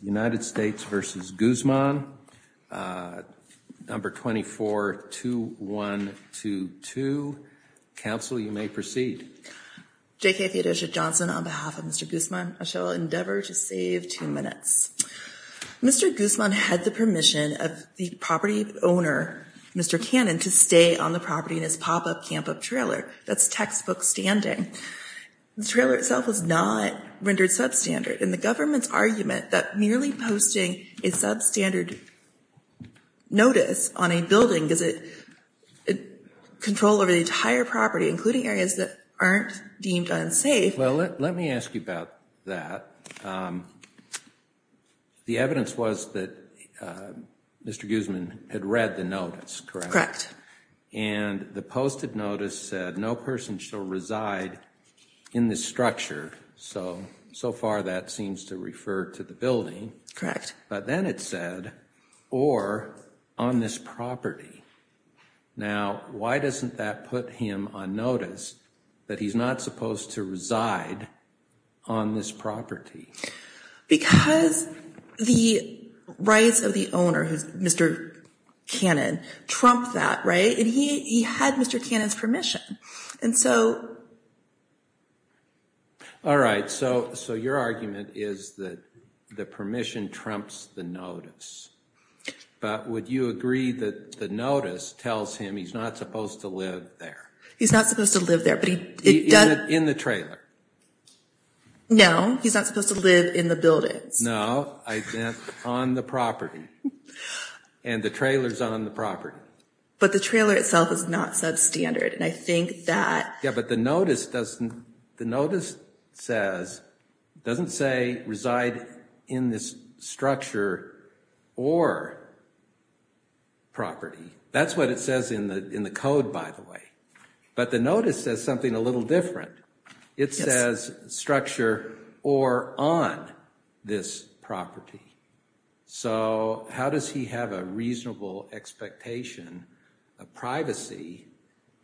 No. 242122. Council, you may proceed. J.K. Theodosia Johnson on behalf of Mr. Guzman. I shall endeavor to save two minutes. Mr. Guzman had the permission of the property owner, Mr. Cannon, to stay on the property in his pop-up camp-up trailer. That's textbook standing. The trailer itself was not rendered substandard. And the government's argument that merely posting a substandard notice on a building gives it control over the entire property, including areas that aren't deemed unsafe. Well, let me ask you about that. The evidence was that Mr. Guzman had read the notice, correct? And the posted notice said no person shall reside in this structure. So, so far that seems to refer to the building. But then it said, or on this property. Now, why doesn't that put him on notice that he's not supposed to reside on this property? Because the rights of the owner, Mr. Cannon, trumped that, right? And he had Mr. Cannon's permission. And so. All right. So, so your argument is that the permission trumps the notice. But would you agree that the notice tells him he's not supposed to live there? He's not supposed to live there, but he does. In the trailer? No, he's not supposed to live in the buildings. No, I meant on the property. And the trailer's on the property. But the trailer itself is not substandard. And I think that. Yeah, but the notice doesn't, the notice says, doesn't say reside in this structure or property. That's what it says in the in the code, by the way. But the notice says something a little different. It says structure or on this property. So how does he have a reasonable expectation of privacy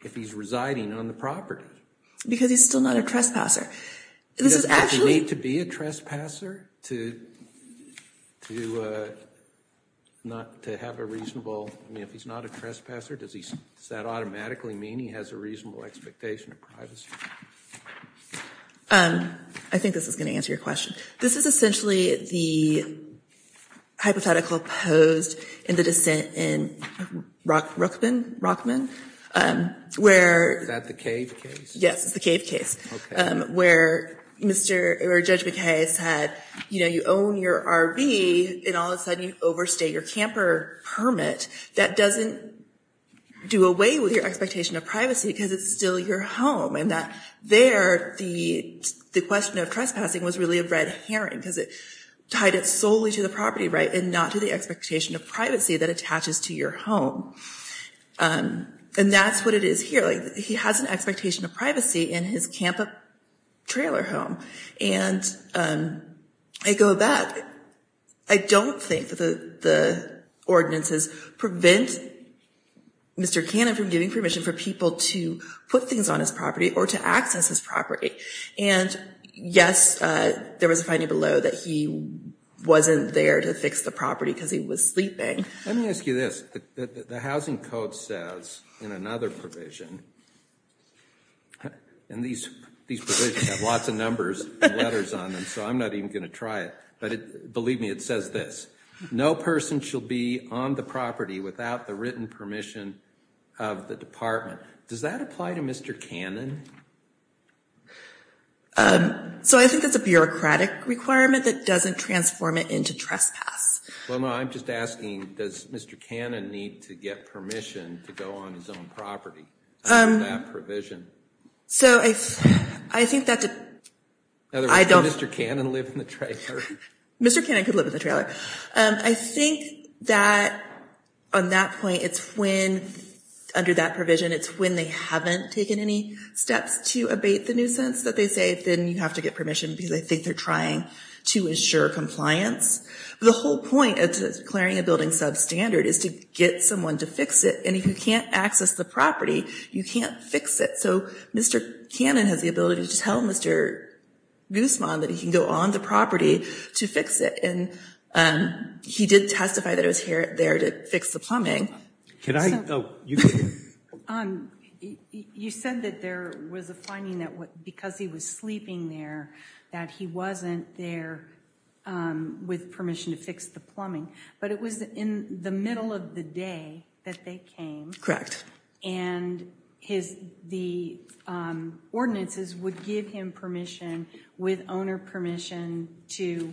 if he's residing on the property? Because he's still not a trespasser. Does he need to be a trespasser to not to have a reasonable, I mean, if he's not a trespasser, does that automatically mean he has a reasonable expectation of privacy? I think this is going to answer your question. This is essentially the hypothetical posed in the dissent in Rockman, where. Is that the cave case? Yes, it's the cave case where Mr. or Judge McKay said, you know, you own your RV and all of a sudden you overstay your camper permit. That doesn't do away with your expectation of privacy because it's still your home. And that there, the the question of trespassing was really a red herring because it tied it solely to the property. Right. And not to the expectation of privacy that attaches to your home. And that's what it is here. He has an expectation of privacy in his camper trailer home. And I go back. I don't think that the ordinances prevent Mr. Cannon from giving permission for people to put things on his property or to access his property. And yes, there was a finding below that he wasn't there to fix the property because he was sleeping. Let me ask you this. The housing code says in another provision. And these these have lots of numbers and letters on them, so I'm not even going to try it. But believe me, it says this. No person shall be on the property without the written permission of the department. Does that apply to Mr. Cannon? So I think it's a bureaucratic requirement that doesn't transform it into trespass. Well, I'm just asking, does Mr. Cannon need to get permission to go on his own property? Um, that provision. So I think that I don't. Mr. Cannon live in the trailer. Mr. Cannon could live in the trailer. I think that on that point, it's when under that provision, it's when they haven't taken any steps to abate the nuisance that they say, then you have to get permission because I think they're trying to ensure compliance. The whole point of declaring a building substandard is to get someone to fix it. And if you can't access the property, you can't fix it. So Mr. Cannon has the ability to tell Mr. Guzman that he can go on the property to fix it. And he did testify that it was here there to fix the plumbing. Can I? You said that there was a finding that because he was sleeping there, that he wasn't there with permission to fix the plumbing. But it was in the middle of the day that they came. Correct. And the ordinances would give him permission with owner permission to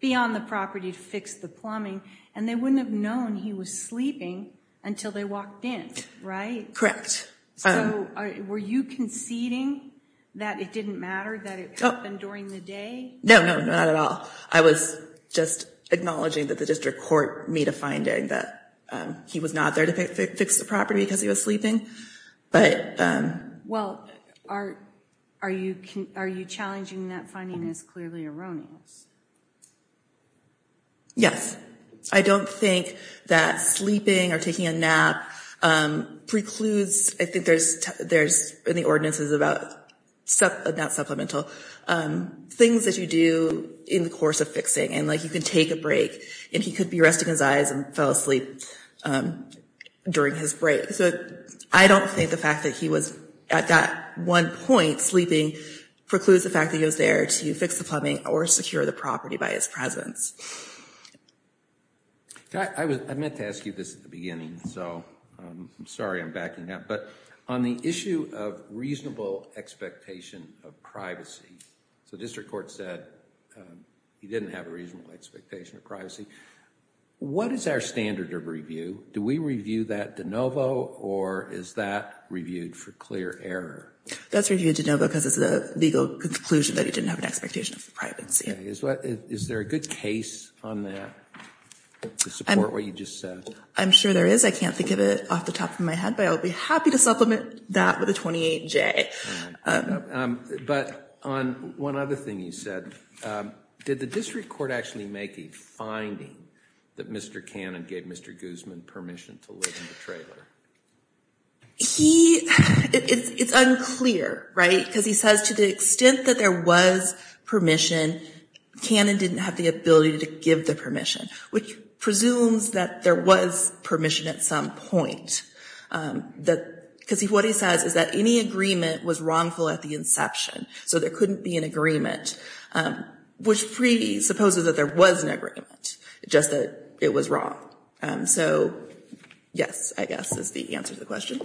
be on the property to fix the plumbing. And they wouldn't have known he was sleeping until they walked in. Right. Correct. So were you conceding that it didn't matter that it happened during the day? No, no, not at all. I was just acknowledging that the district court made a finding that he was not there to fix the property because he was sleeping. But well, are you are you challenging that finding is clearly erroneous? Yes, I don't think that sleeping or taking a nap precludes I think there's there's in the ordinances about supplemental things that you do in the course of fixing. And like you can take a break and he could be resting his eyes and fell asleep during his break. So I don't think the fact that he was at that one point sleeping precludes the fact that he was there to fix the plumbing or secure the property by his presence. I meant to ask you this at the beginning, so I'm sorry I'm backing up. But on the issue of reasonable expectation of privacy, the district court said he didn't have a reasonable expectation of privacy. What is our standard of review? Do we review that de novo or is that reviewed for clear error? That's reviewed de novo because it's the legal conclusion that he didn't have an expectation of privacy. Is there a good case on that to support what you just said? I'm sure there is. I can't think of it off the top of my head, but I'll be happy to supplement that with a 28-J. But on one other thing you said, did the district court actually make a finding that Mr. Cannon gave Mr. Guzman permission to live in the trailer? It's unclear, right, because he says to the extent that there was permission, Cannon didn't have the ability to give the permission, which presumes that there was permission at some point. Because what he says is that any agreement was wrongful at the inception. So there couldn't be an agreement, which presupposes that there was an agreement, just that it was wrong. So yes, I guess that's the answer to the question.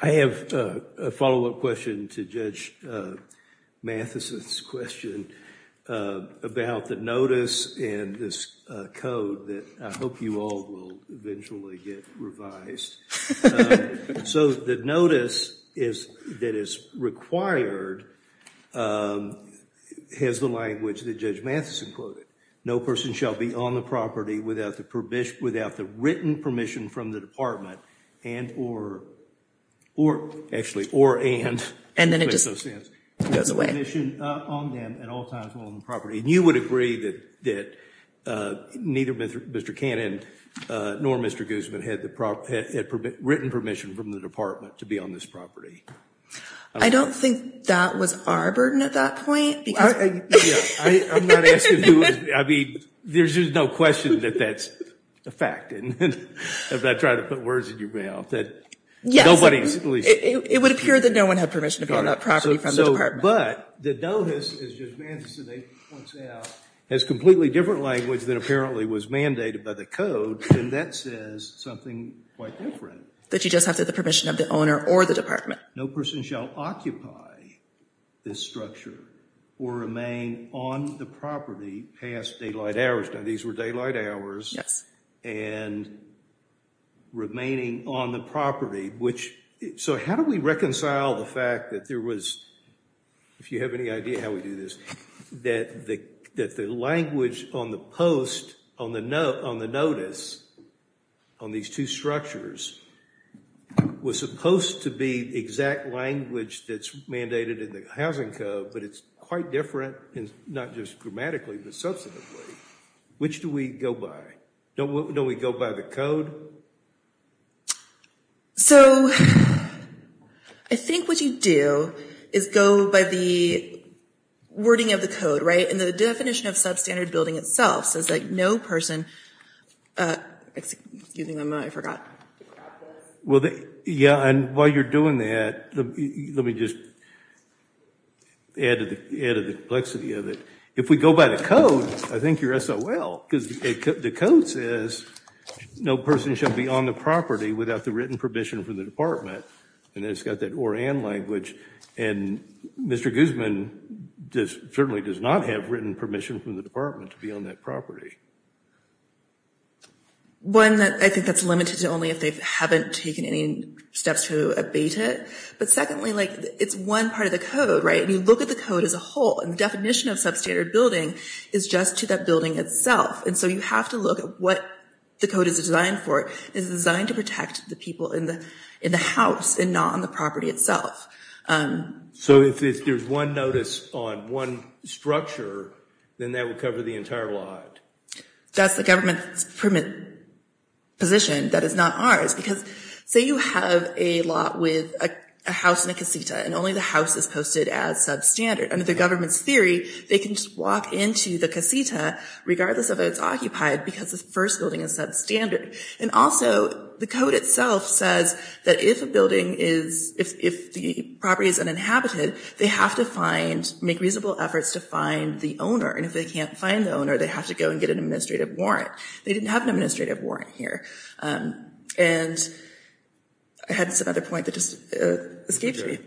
I have a follow-up question to Judge Matheson's question about the notice and this code that I hope you all will eventually get revised. So the notice that is required has the language that Judge Matheson quoted. No person shall be on the property without the written permission from the department and or actually or and. And then it just goes away. And you would agree that neither Mr. Cannon nor Mr. Guzman had written permission from the department to be on this property. I don't think that was our burden at that point. I mean, there's just no question that that's a fact. And if I try to put words in your mouth that nobody. It would appear that no one had permission to build up property from the department. But the notice, as Judge Matheson points out, has completely different language than apparently was mandated by the code. And that says something quite different. That you just have to have the permission of the owner or the department. No person shall occupy this structure or remain on the property past daylight hours. Now these were daylight hours. And remaining on the property, which. So how do we reconcile the fact that there was, if you have any idea how we do this, that the language on the post, on the notice, on these two structures, was supposed to be exact language that's mandated in the housing code. But it's quite different, not just grammatically, but substantively. Which do we go by? Don't we go by the code? So I think what you do is go by the wording of the code, right? And the definition of substandard building itself says that no person. Excuse me, I forgot. Yeah, and while you're doing that, let me just add to the complexity of it. If we go by the code, I think you're SOL. Because the code says no person should be on the property without the written permission from the department. And it's got that or, and language. And Mr. Guzman certainly does not have written permission from the department to be on that property. One, I think that's limited to only if they haven't taken any steps to abate it. But secondly, it's one part of the code, right? When you look at the code as a whole, and the definition of substandard building is just to that building itself. And so you have to look at what the code is designed for. It's designed to protect the people in the house and not on the property itself. So if there's one notice on one structure, then that would cover the entire lot. That's the government's position. That is not ours. Because say you have a lot with a house and a casita, and only the house is posted as substandard. Under the government's theory, they can just walk into the casita, regardless of if it's occupied, because the first building is substandard. And also, the code itself says that if a building is, if the property is uninhabited, they have to find, make reasonable efforts to find the owner. And if they can't find the owner, they have to go and get an administrative warrant. They didn't have an administrative warrant here. And I had another point that just escaped me.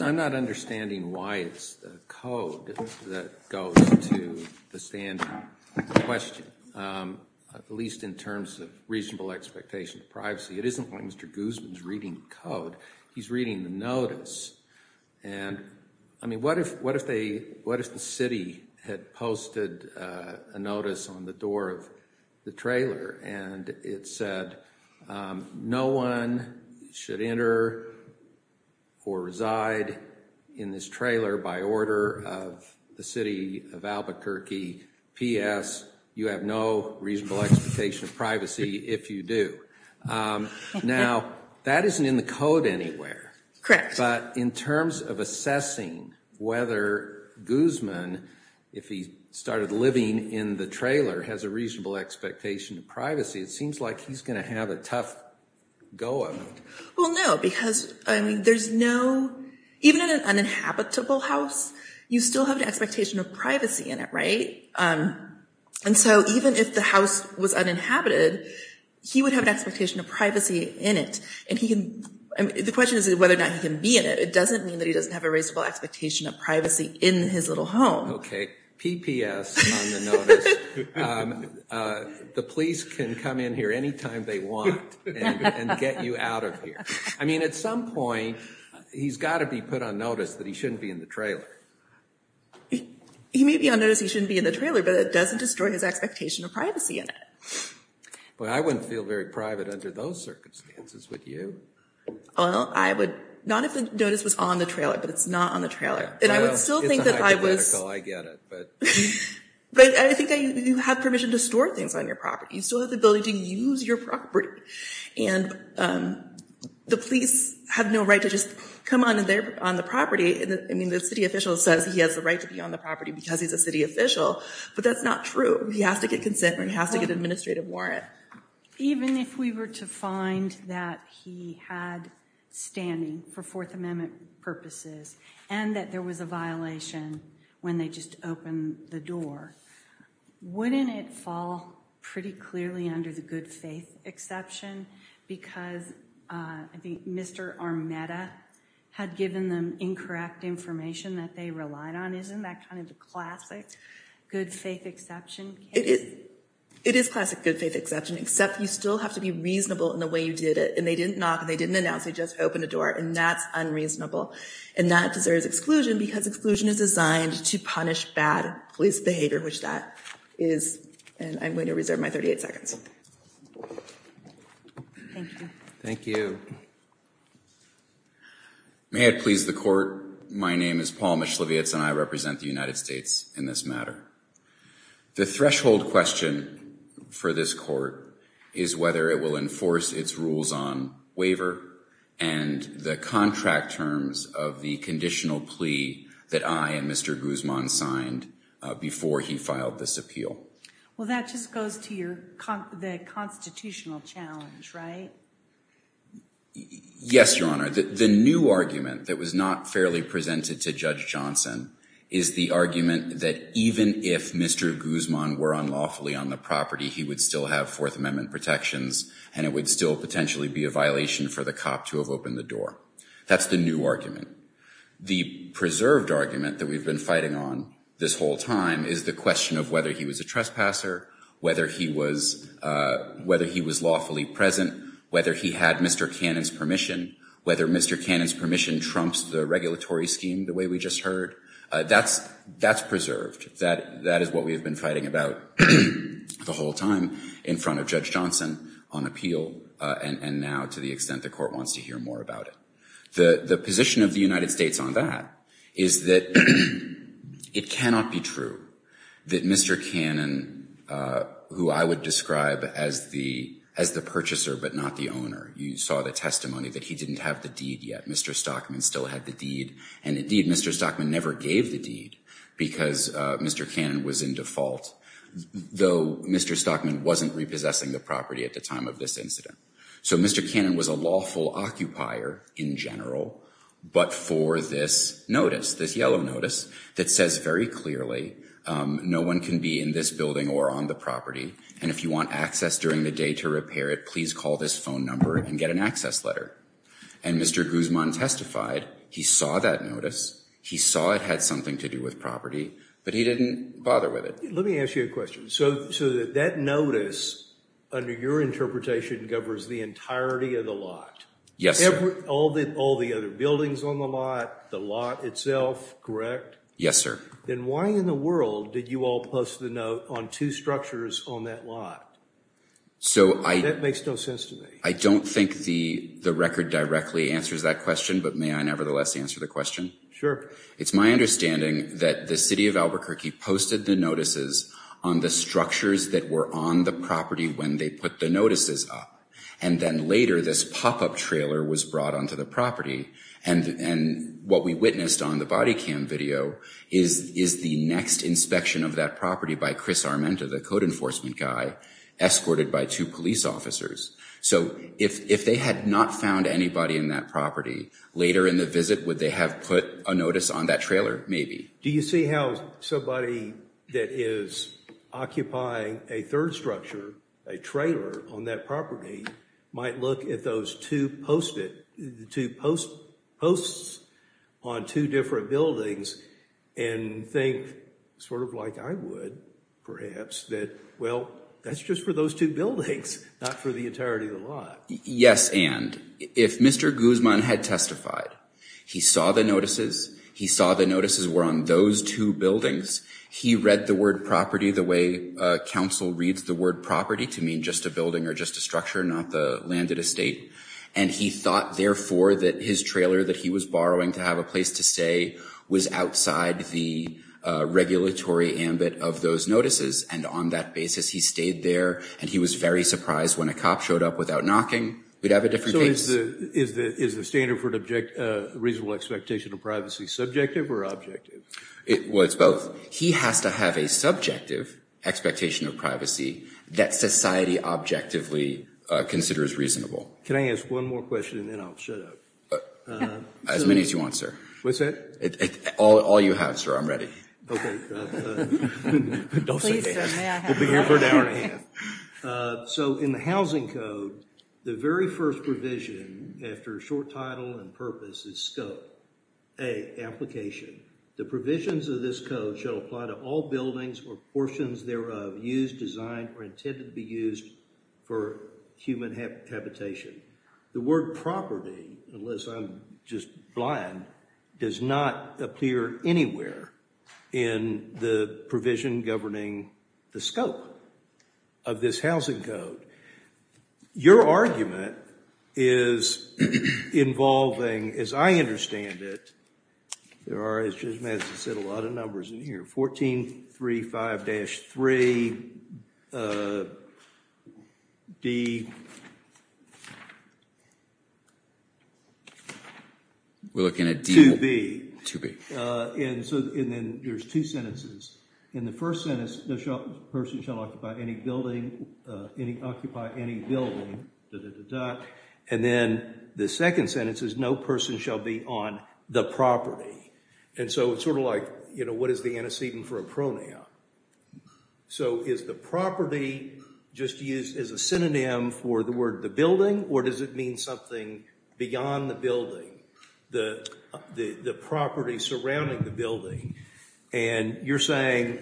I'm not understanding why it's the code that goes to the standard question, at least in terms of reasonable expectation of privacy. It isn't like Mr. Guzman is reading the code. He's reading the notice. And I mean, what if the city had posted a notice on the door of the trailer, and it said, no one should enter or reside in this trailer by order of the city of Albuquerque. P.S., you have no reasonable expectation of privacy if you do. Now, that isn't in the code anywhere. Correct. But in terms of assessing whether Guzman, if he started living in the trailer, has a reasonable expectation of privacy, it seems like he's going to have a tough go of it. Well, no, because, I mean, there's no, even in an uninhabitable house, you still have an expectation of privacy in it, right? And so even if the house was uninhabited, he would have an expectation of privacy in it. And he can, the question is whether or not he can be in it. It doesn't mean that he doesn't have a reasonable expectation of privacy in his little home. Okay, P.P.S. on the notice. The police can come in here any time they want and get you out of here. I mean, at some point, he's got to be put on notice that he shouldn't be in the trailer. He may be on notice he shouldn't be in the trailer, but it doesn't destroy his expectation of privacy in it. Well, I wouldn't feel very private under those circumstances, would you? Well, I would, not if the notice was on the trailer, but it's not on the trailer. And I would still think that I was... It's hypothetical, I get it, but... But I think that you have permission to store things on your property. You still have the ability to use your property. And the police have no right to just come on the property. I mean, the city official says he has the right to be on the property because he's a city official, but that's not true. He has to get consent or he has to get an administrative warrant. Even if we were to find that he had standing for Fourth Amendment purposes and that there was a violation when they just opened the door, wouldn't it fall pretty clearly under the good faith exception? Because I think Mr. Armetta had given them incorrect information that they relied on. Isn't that kind of the classic good faith exception? It is classic good faith exception, except you still have to be reasonable in the way you did it. And they didn't knock and they didn't announce, they just opened the door, and that's unreasonable. And that deserves exclusion because exclusion is designed to punish bad police behavior, which that is. And I'm going to reserve my 38 seconds. Thank you. Thank you. May it please the court. My name is Paul Mischlevitz and I represent the United States in this matter. The threshold question for this court is whether it will enforce its rules on waiver and the contract terms of the conditional plea that I and Mr. Guzman signed before he filed this appeal. Well, that just goes to the constitutional challenge, right? Yes, Your Honor. The new argument that was not fairly presented to Judge Johnson is the argument that even if Mr. Guzman were unlawfully on the property, he would still have Fourth Amendment protections and it would still potentially be a violation for the cop to have opened the door. That's the new argument. The preserved argument that we've been fighting on this whole time is the question of whether he was a trespasser, whether he was lawfully present, whether he had Mr. Cannon's permission, whether Mr. Cannon's permission trumps the regulatory scheme the way we just heard. That's preserved. That is what we have been fighting about the whole time in front of Judge Johnson on appeal and now to the extent the court wants to hear more about it. The position of the United States on that is that it cannot be true that Mr. Cannon, who I would describe as the purchaser but not the owner, you saw the testimony that he didn't have the deed yet. Mr. Stockman still had the deed, and indeed Mr. Stockman never gave the deed because Mr. Cannon was in default, though Mr. Stockman wasn't repossessing the property at the time of this incident. So Mr. Cannon was a lawful occupier in general, but for this notice, this yellow notice, that says very clearly no one can be in this building or on the property, and if you want access during the day to repair it, please call this phone number and get an access letter. And Mr. Guzman testified. He saw that notice. He saw it had something to do with property, but he didn't bother with it. Let me ask you a question. So that notice, under your interpretation, covers the entirety of the lot? Yes, sir. All the other buildings on the lot, the lot itself, correct? Yes, sir. Then why in the world did you all post the note on two structures on that lot? That makes no sense to me. I don't think the record directly answers that question, but may I nevertheless answer the question? Sure. It's my understanding that the city of Albuquerque posted the notices on the structures that were on the property when they put the notices up, and then later this pop-up trailer was brought onto the property, and what we witnessed on the body cam video is the next inspection of that property by Chris Armenta, the code enforcement guy, escorted by two police officers. So if they had not found anybody in that property, later in the visit would they have put a notice on that trailer? Maybe. Do you see how somebody that is occupying a third structure, a trailer on that property, might look at those two posts on two different buildings and think, sort of like I would perhaps, that, well, that's just for those two buildings, not for the entirety of the lot. Yes, and if Mr. Guzman had testified, he saw the notices, he saw the notices were on those two buildings, he read the word property the way counsel reads the word property to mean just a building or just a structure, not the landed estate, and he thought, therefore, that his trailer that he was borrowing to have a place to stay was outside the regulatory ambit of those notices, and on that basis he stayed there, and he was very surprised when a cop showed up without knocking. We'd have a different case. So is the standard for a reasonable expectation of privacy subjective or objective? Well, it's both. He has to have a subjective expectation of privacy that society objectively considers reasonable. Can I ask one more question and then I'll shut up? As many as you want, sir. What's that? All you have, sir. I'm ready. Okay. Please, sir, may I have it? We'll be here for an hour and a half. So in the housing code, the very first provision after short title and purpose is scope. A, application. The provisions of this code shall apply to all buildings or portions thereof used, designed, or intended to be used for human habitation. The word property, unless I'm just blind, does not appear anywhere in the provision governing the scope of this housing code. Your argument is involving, as I understand it, there are, as Judge Madison said, a lot of numbers in here. Fourteen, three, five, dash, three, D. We're looking at D. Two B. Two B. And so, and then there's two sentences. In the first sentence, no person shall occupy any building, occupy any building, da, da, da, da. And then the second sentence is no person shall be on the property. And so it's sort of like, you know, what is the antecedent for a pronoun? So is the property just used as a synonym for the word the building, or does it mean something beyond the building, the property surrounding the building? And you're saying,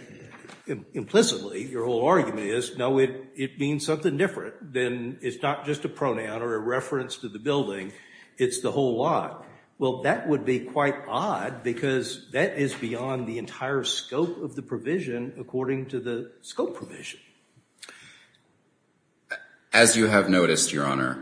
implicitly, your whole argument is, no, it means something different than, it's not just a pronoun or a reference to the building, it's the whole lot. Well, that would be quite odd, because that is beyond the entire scope of the provision according to the scope provision. As you have noticed, Your Honor,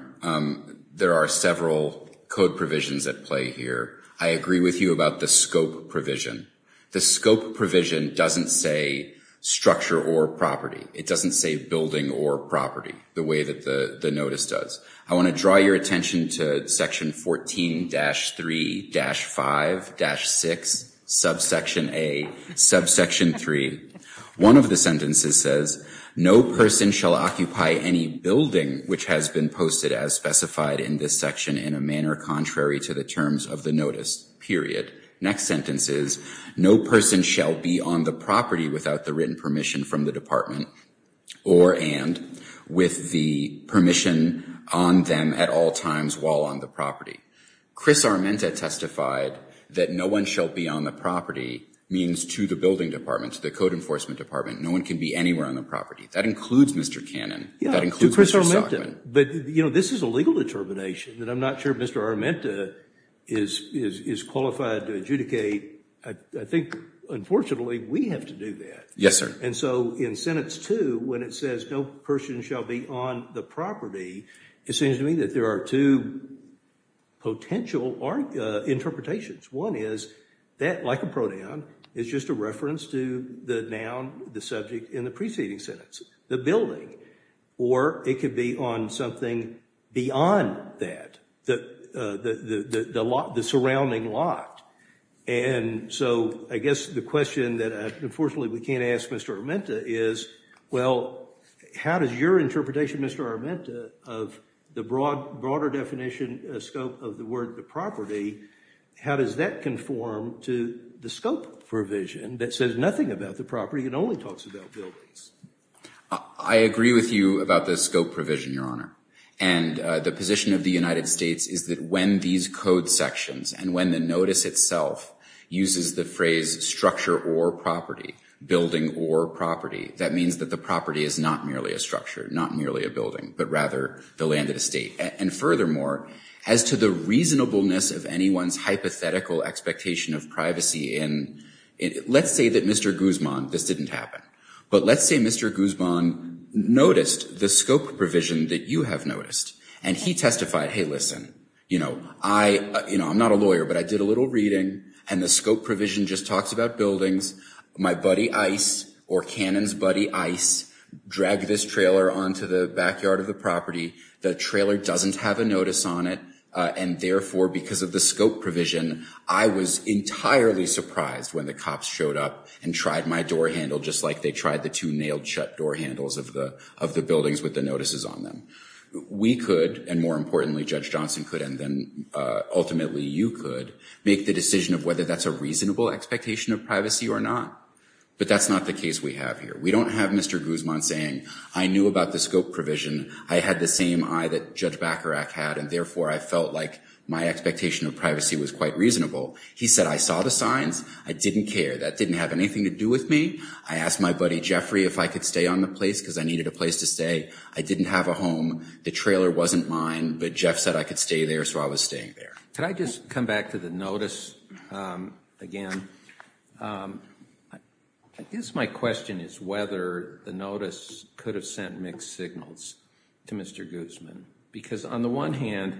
there are several code provisions at play here. I agree with you about the scope provision. The scope provision doesn't say structure or property. It doesn't say building or property the way that the notice does. I want to draw your attention to section 14-3-5-6, subsection A, subsection 3. One of the sentences says, no person shall occupy any building which has been posted as specified in this section in a manner contrary to the terms of the notice, period. Next sentence is, no person shall be on the property without the written permission from the department or and with the permission on them at all times while on the property. Chris Armenta testified that no one shall be on the property means to the building department, to the code enforcement department, no one can be anywhere on the property. That includes Mr. Cannon. That includes Mr. Stockman. But, you know, this is a legal determination, and I'm not sure Mr. Armenta is qualified to adjudicate. I think, unfortunately, we have to do that. Yes, sir. And so in sentence two, when it says no person shall be on the property, it seems to me that there are two potential interpretations. One is that, like a pronoun, is just a reference to the noun, the subject in the preceding sentence, the building. Or it could be on something beyond that, the surrounding lot. And so I guess the question that, unfortunately, we can't ask Mr. Armenta is, well, how does your interpretation, Mr. Armenta, of the broader definition, scope of the word the property, how does that conform to the scope provision that says nothing about the property and only talks about buildings? I agree with you about the scope provision, Your Honor. And the position of the United States is that when these code sections and when the notice itself uses the phrase structure or property, building or property, that means that the property is not merely a structure, not merely a building, but rather the land and estate. And furthermore, as to the reasonableness of anyone's hypothetical expectation of privacy in, let's say that Mr. Guzman, this didn't happen, but let's say Mr. Guzman noticed the scope provision that you have noticed and he testified, hey, listen, you know, I'm not a lawyer, but I did a little reading and the scope provision just talks about buildings. My buddy Ice or Cannon's buddy Ice dragged this trailer onto the backyard of the property. The trailer doesn't have a notice on it. And therefore, because of the scope provision, I was entirely surprised when the cops showed up and tried my door handle just like they tried the two nailed shut door handles of the buildings with the notices on them. We could, and more importantly, Judge Johnson could, and then ultimately you could, make the decision of whether that's a reasonable expectation of privacy or not. But that's not the case we have here. We don't have Mr. Guzman saying, I knew about the scope provision. I had the same eye that Judge Bacharach had, and therefore, I felt like my expectation of privacy was quite reasonable. He said, I saw the signs. I didn't care. That didn't have anything to do with me. I asked my buddy Jeffrey if I could stay on the place because I needed a place to stay. I didn't have a home. The trailer wasn't mine, but Jeff said I could stay there, so I was staying there. Could I just come back to the notice again? I guess my question is whether the notice could have sent mixed signals to Mr. Guzman because on the one hand,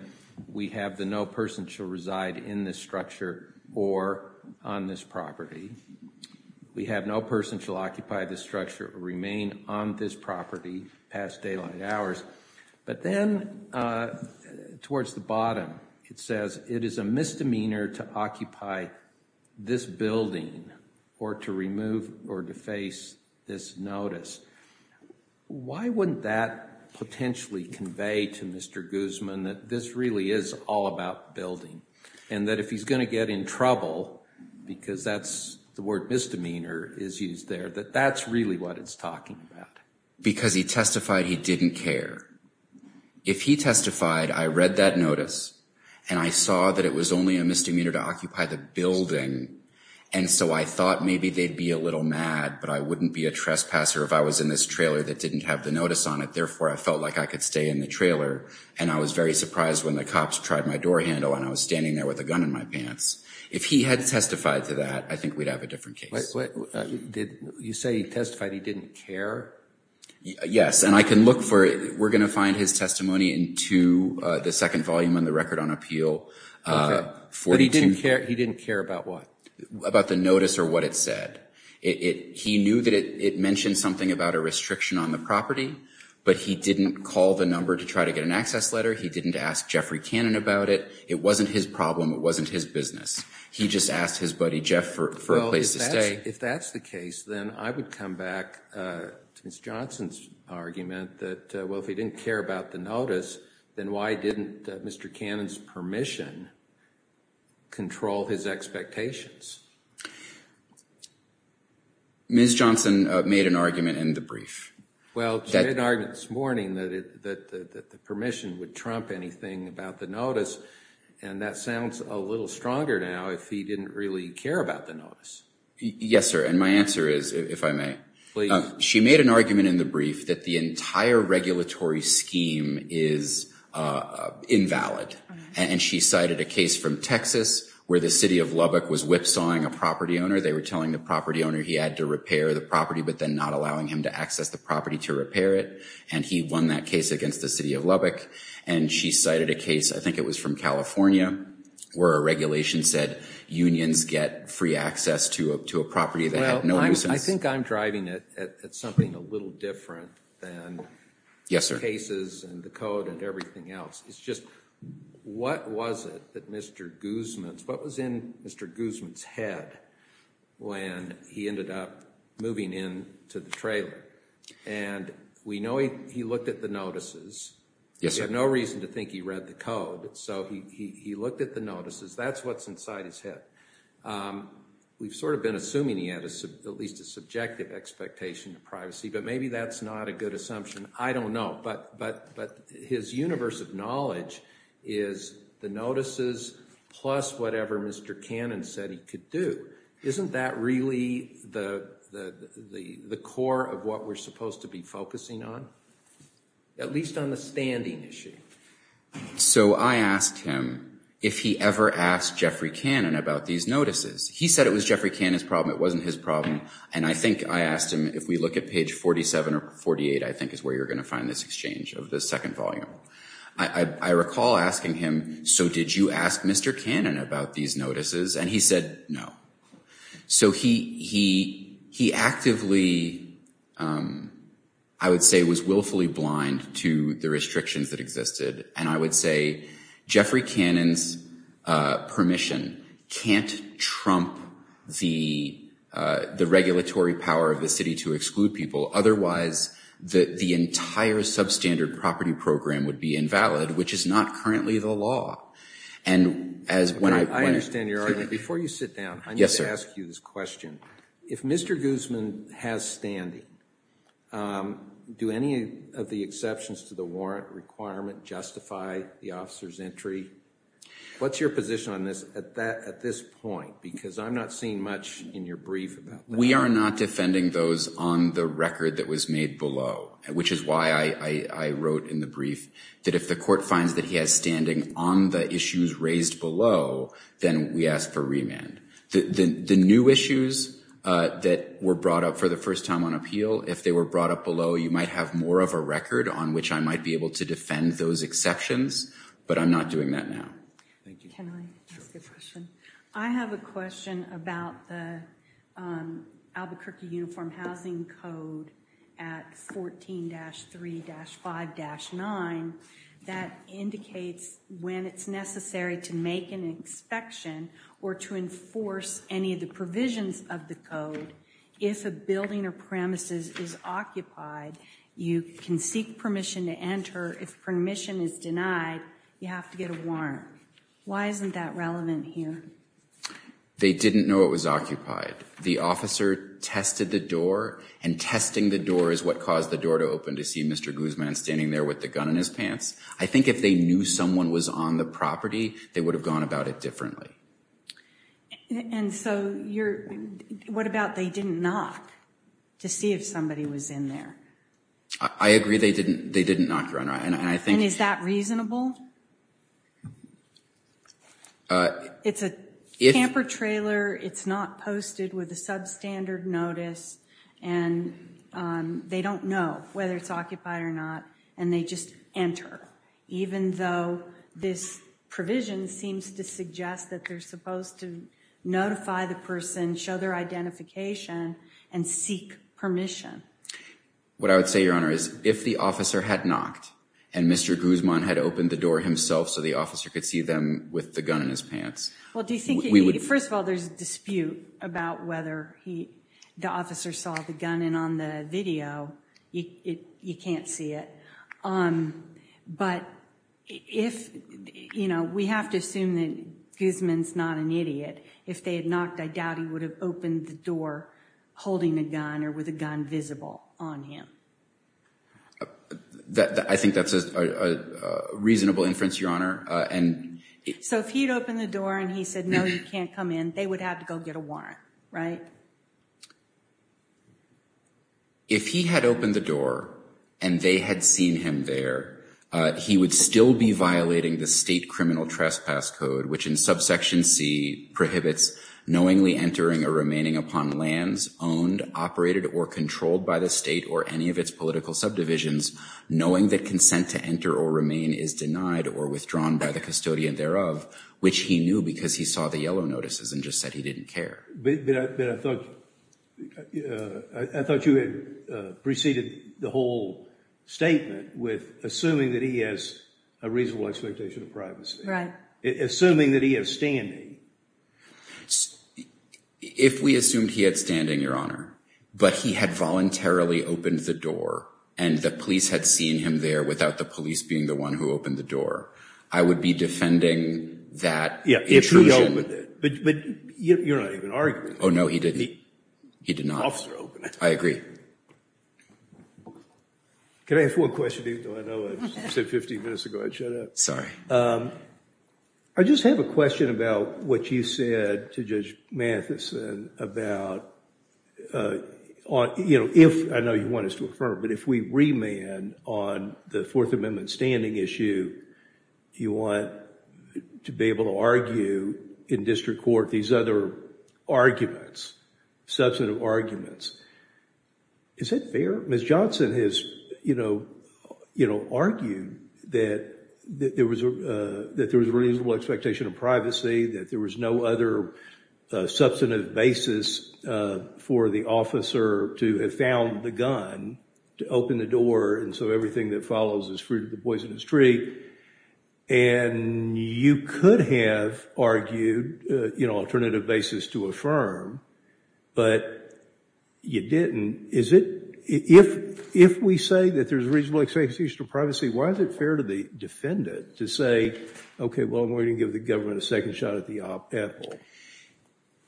we have the no person shall reside in this structure or on this property. We have no person shall occupy this structure or remain on this property past daylight hours. But then towards the bottom, it says it is a misdemeanor to occupy this building or to remove or deface this notice. Why wouldn't that potentially convey to Mr. Guzman that this really is all about building and that if he's going to get in trouble, because that's the word misdemeanor is used there, that that's really what it's talking about. Because he testified he didn't care. If he testified, I read that notice and I saw that it was only a misdemeanor to occupy the building, and so I thought maybe they'd be a little mad, but I wouldn't be a trespasser if I was in this trailer that didn't have the notice on it. Therefore, I felt like I could stay in the trailer, and I was very surprised when the guy was standing there with a gun in my pants. If he had testified to that, I think we'd have a different case. You say he testified he didn't care? Yes, and I can look for it. We're going to find his testimony in 2, the second volume in the record on appeal. But he didn't care about what? About the notice or what it said. He knew that it mentioned something about a restriction on the property, but he didn't call the number to try to get an access letter. He didn't ask Jeffrey Cannon about it. It wasn't his problem. It wasn't his business. He just asked his buddy Jeff for a place to stay. Well, if that's the case, then I would come back to Ms. Johnson's argument that, well, if he didn't care about the notice, then why didn't Mr. Cannon's permission control his expectations? Ms. Johnson made an argument in the brief. Well, she made an argument this morning that the permission would trump anything about the notice. And that sounds a little stronger now if he didn't really care about the notice. Yes, sir. And my answer is, if I may. Please. She made an argument in the brief that the entire regulatory scheme is invalid. And she cited a case from Texas where the city of Lubbock was whipsawing a property owner. They were telling the property owner he had to repair the property but then not allowing him to access the property to repair it. And he won that case against the city of Lubbock. And she cited a case, I think it was from California, where a regulation said unions get free access to a property that had no nuisance. Well, I think I'm driving at something a little different than the cases and the code and everything else. It's just, what was it that Mr. Guzman, what was in Mr. Guzman's head when he ended up moving in to the trailer? And we know he looked at the notices. Yes, sir. He had no reason to think he read the code. So he looked at the notices. That's what's inside his head. We've sort of been assuming he had at least a subjective expectation of privacy. But maybe that's not a good assumption. I don't know. But his universe of knowledge is the notices plus whatever Mr. Cannon said he could do. Isn't that really the core of what we're supposed to be focusing on? At least on the standing issue. So I asked him if he ever asked Jeffrey Cannon about these notices. He said it was Jeffrey Cannon's problem. It wasn't his problem. And I think I asked him, if we look at page 47 or 48, I think is where you're going to find this exchange of the second volume. I recall asking him, so did you ask Mr. Cannon about these notices? And he said no. So he actively, I would say, was willfully blind to the restrictions that existed. And I would say, Jeffrey Cannon's permission can't trump the regulatory power of the city to exclude people. Otherwise, the entire substandard property program would be invalid, which is not currently the law. I understand your argument. Before you sit down, I need to ask you this question. If Mr. Guzman has standing, do any of the exceptions to the warrant requirement justify the officer's entry? What's your position on this at this point? Because I'm not seeing much in your brief about that. We are not defending those on the record that was made below, which is why I wrote in the issues raised below, then we asked for remand. The new issues that were brought up for the first time on appeal, if they were brought up below, you might have more of a record on which I might be able to defend those exceptions. But I'm not doing that now. Can I ask a question? I have a question about the Albuquerque Uniform Housing Code at 14-3-5-9. That indicates when it's necessary to make an inspection or to enforce any of the provisions of the code, if a building or premises is occupied, you can seek permission to enter. If permission is denied, you have to get a warrant. Why isn't that relevant here? They didn't know it was occupied. The officer tested the door, and testing the door is what caused the door to open to see Mr. Guzman standing there with the gun in his pants. I think if they knew someone was on the property, they would have gone about it differently. And so what about they didn't knock to see if somebody was in there? I agree they didn't knock, Your Honor. And is that reasonable? It's a camper trailer. It's not posted with a substandard notice. And they don't know whether it's occupied or not, and they just enter, even though this provision seems to suggest that they're supposed to notify the person, show their identification, and seek permission. What I would say, Your Honor, is if the officer had knocked, and Mr. Guzman had opened the door himself so the officer could see them with the gun in his pants, First of all, there's a dispute about whether the officer saw the gun. And on the video, you can't see it. But we have to assume that Guzman's not an idiot. If they had knocked, I doubt he would have opened the door holding a gun or with a gun visible on him. I think that's a reasonable inference, Your Honor. So if he'd opened the door and he said, no, you can't come in, they would have to go get a warrant, right? If he had opened the door and they had seen him there, he would still be violating the state criminal trespass code, which in subsection C prohibits knowingly entering or remaining upon lands owned, operated, or controlled by the state or any of its political subdivisions, knowing that consent to enter or remain is denied or withdrawn by the custodian thereof, which he knew because he saw the yellow notices and just said he didn't care. But I thought you had preceded the whole statement with assuming that he has a reasonable expectation of privacy. Right. Assuming that he is standing. If we assumed he had standing, Your Honor, but he had voluntarily opened the door and the police had seen him there without the police being the one who opened the door, I would be defending that intrusion. But you're not even arguing. Oh, no, he didn't. He did not. The officer opened it. I agree. Can I ask one question, even though I know I said 15 minutes ago I'd shut up? Sorry. I just have a question about what you said to Judge Matheson about, you know, if, I know you want us to affirm, but if we remand on the Fourth Amendment standing issue, you want to be able to argue in district court these other arguments, substantive arguments. Is that fair? Ms. Johnson has, you know, argued that there was a reasonable expectation of privacy, that there was no other substantive basis for the officer to have found the gun to open the door, and so everything that follows is fruit of the poisonous tree. And you could have argued, you know, alternative basis to affirm, but you didn't. If we say that there's reasonable expectation of privacy, why is it fair to the defendant to say, okay, well, I'm going to give the government a second shot at the apple?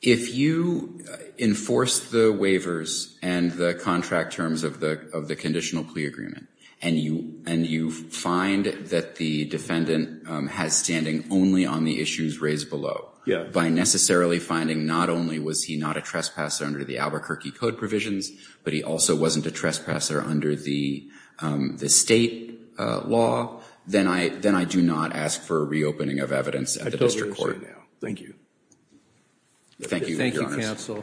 If you enforce the waivers and the contract terms of the conditional plea agreement and you find that the defendant has standing only on the issues raised below, by necessarily finding not only was he not a trespasser under the Albuquerque Code provisions, but he also wasn't a trespasser under the state law, then I do not ask for a reopening of evidence at the district court. Thank you. Thank you, counsel.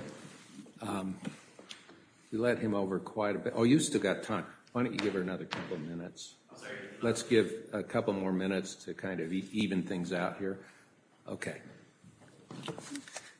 We let him over quite a bit. Oh, you still got time. Why don't you give her another couple of minutes? Let's give a couple more minutes to kind of even things out here. Okay.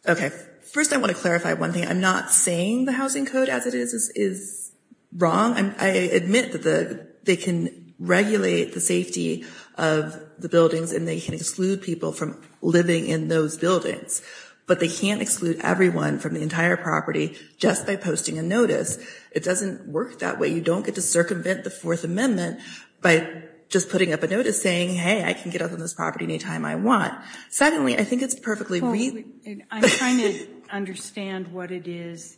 Okay. First, I want to clarify one thing. I'm not saying the housing code as it is is wrong. I admit that they can regulate the safety of the buildings and they can exclude people from living in those buildings, but they can't exclude everyone from the entire property just by posting a notice. It doesn't work that way. You don't get to circumvent the Fourth Amendment by just putting up a notice saying, hey, I can get on this property any time I want. Secondly, I think it's perfectly reasonable. I'm trying to understand what it is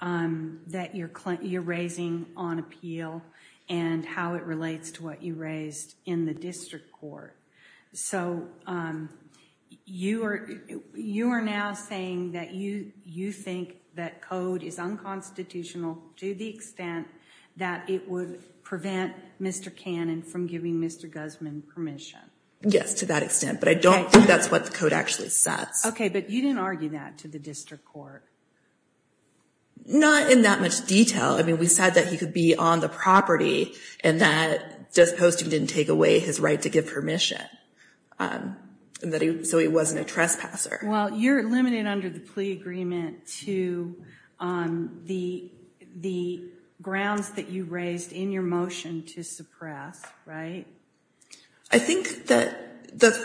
that you're raising on appeal and how it relates to what you raised in the district court. So you are now saying that you think that code is unconstitutional to the extent that it would prevent Mr. Cannon from giving Mr. Guzman permission. Yes, to that extent, but I don't think that's what the code actually says. Okay, but you didn't argue that to the district court. Not in that much detail. I mean, we said that he could be on the property and that just posting didn't take away his right to give permission, so he wasn't a trespasser. Well, you're limited under the plea agreement to the grounds that you raised in your motion to suppress, right? I think that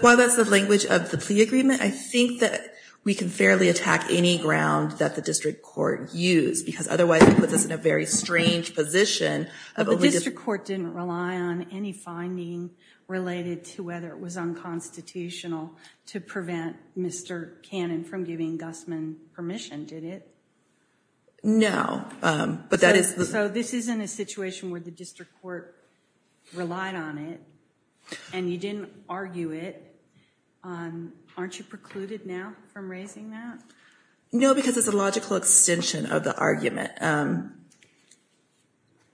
while that's the language of the plea agreement, I think that we can fairly attack any ground that the district court used because otherwise it puts us in a very strange position. The district court didn't rely on any finding related to whether it was unconstitutional to prevent Mr. Cannon from giving Guzman permission, did it? No. So this isn't a situation where the district court relied on it and you didn't argue it. Aren't you precluded now from raising that? No, because it's a logical extension of the argument.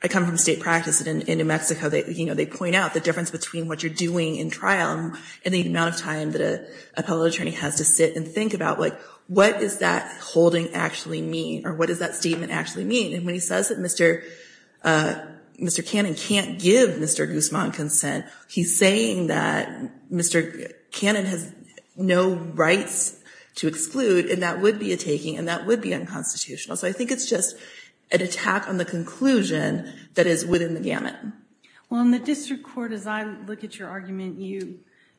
I come from state practice in New Mexico. They point out the difference between what you're doing in trial and the amount of time that an appellate attorney has to sit and think about, like, what does that holding actually mean or what does that statement actually mean? And when he says that Mr. Cannon can't give Mr. Guzman consent, he's saying that Mr. Cannon has no rights to exclude, and that would be a taking and that would be unconstitutional. So I think it's just an attack on the conclusion that is within the gamut. Well, in the district court, as I look at your argument,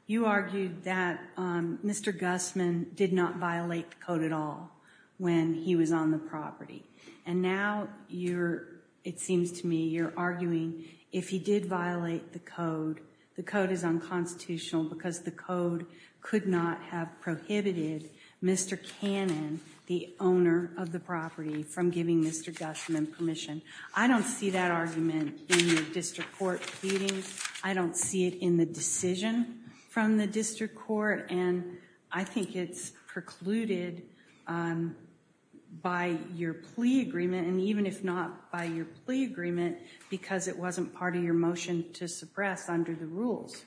you argued that Mr. Guzman did not violate the code at all when he was on the property. And now it seems to me you're arguing if he did violate the code, the code is unconstitutional because the code could not have prohibited Mr. Cannon, the owner of the property, from giving Mr. Guzman permission. I don't see that argument in your district court pleadings. I don't see it in the decision from the district court, and I think it's precluded by your plea agreement, and even if not by your plea agreement, because it wasn't part of your motion to suppress under the rules.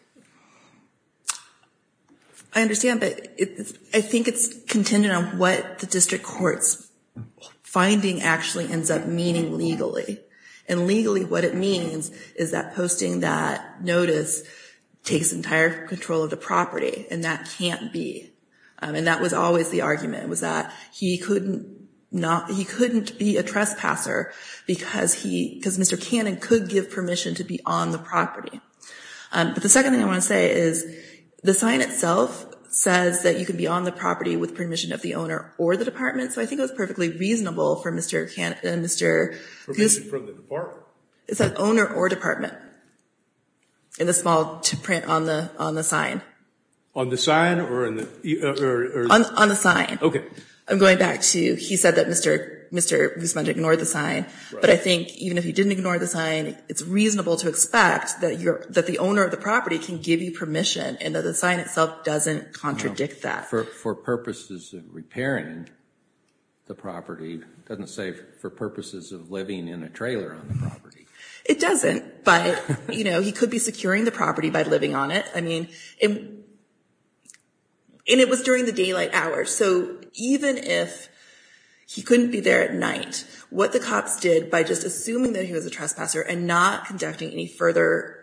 I understand, but I think it's contingent on what the district court's finding actually ends up meaning legally, and legally what it means is that posting that notice takes entire control of the property, and that can't be, and that was always the argument, was that he couldn't be a trespasser because Mr. Cannon could give permission to be on the property. But the second thing I want to say is the sign itself says that you can be on the property with permission of the owner or the department, so I think it was perfectly reasonable for Mr. Cannon and Mr. Guzman. Permission from the department? It says owner or department in the small print on the sign. On the sign or in the? On the sign. Okay. I'm going back to he said that Mr. Guzman ignored the sign, but I think even if he didn't ignore the sign, it's reasonable to expect that the owner of the property can give you permission and that the sign itself doesn't contradict that. For purposes of repairing the property, it doesn't say for purposes of living in a trailer on the property. It doesn't, but, you know, he could be securing the property by living on it. I mean, and it was during the daylight hours, so even if he couldn't be there at night, what the cops did by just assuming that he was a trespasser and not conducting any further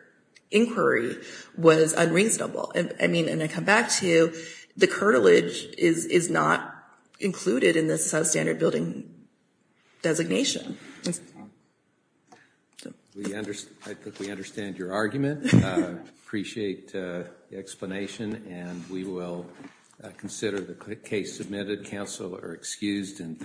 inquiry was unreasonable. I mean, and I come back to you, the curtilage is not included in this substandard building designation. I think we understand your argument. I appreciate the explanation, and we will consider the case submitted. Counsel are excused.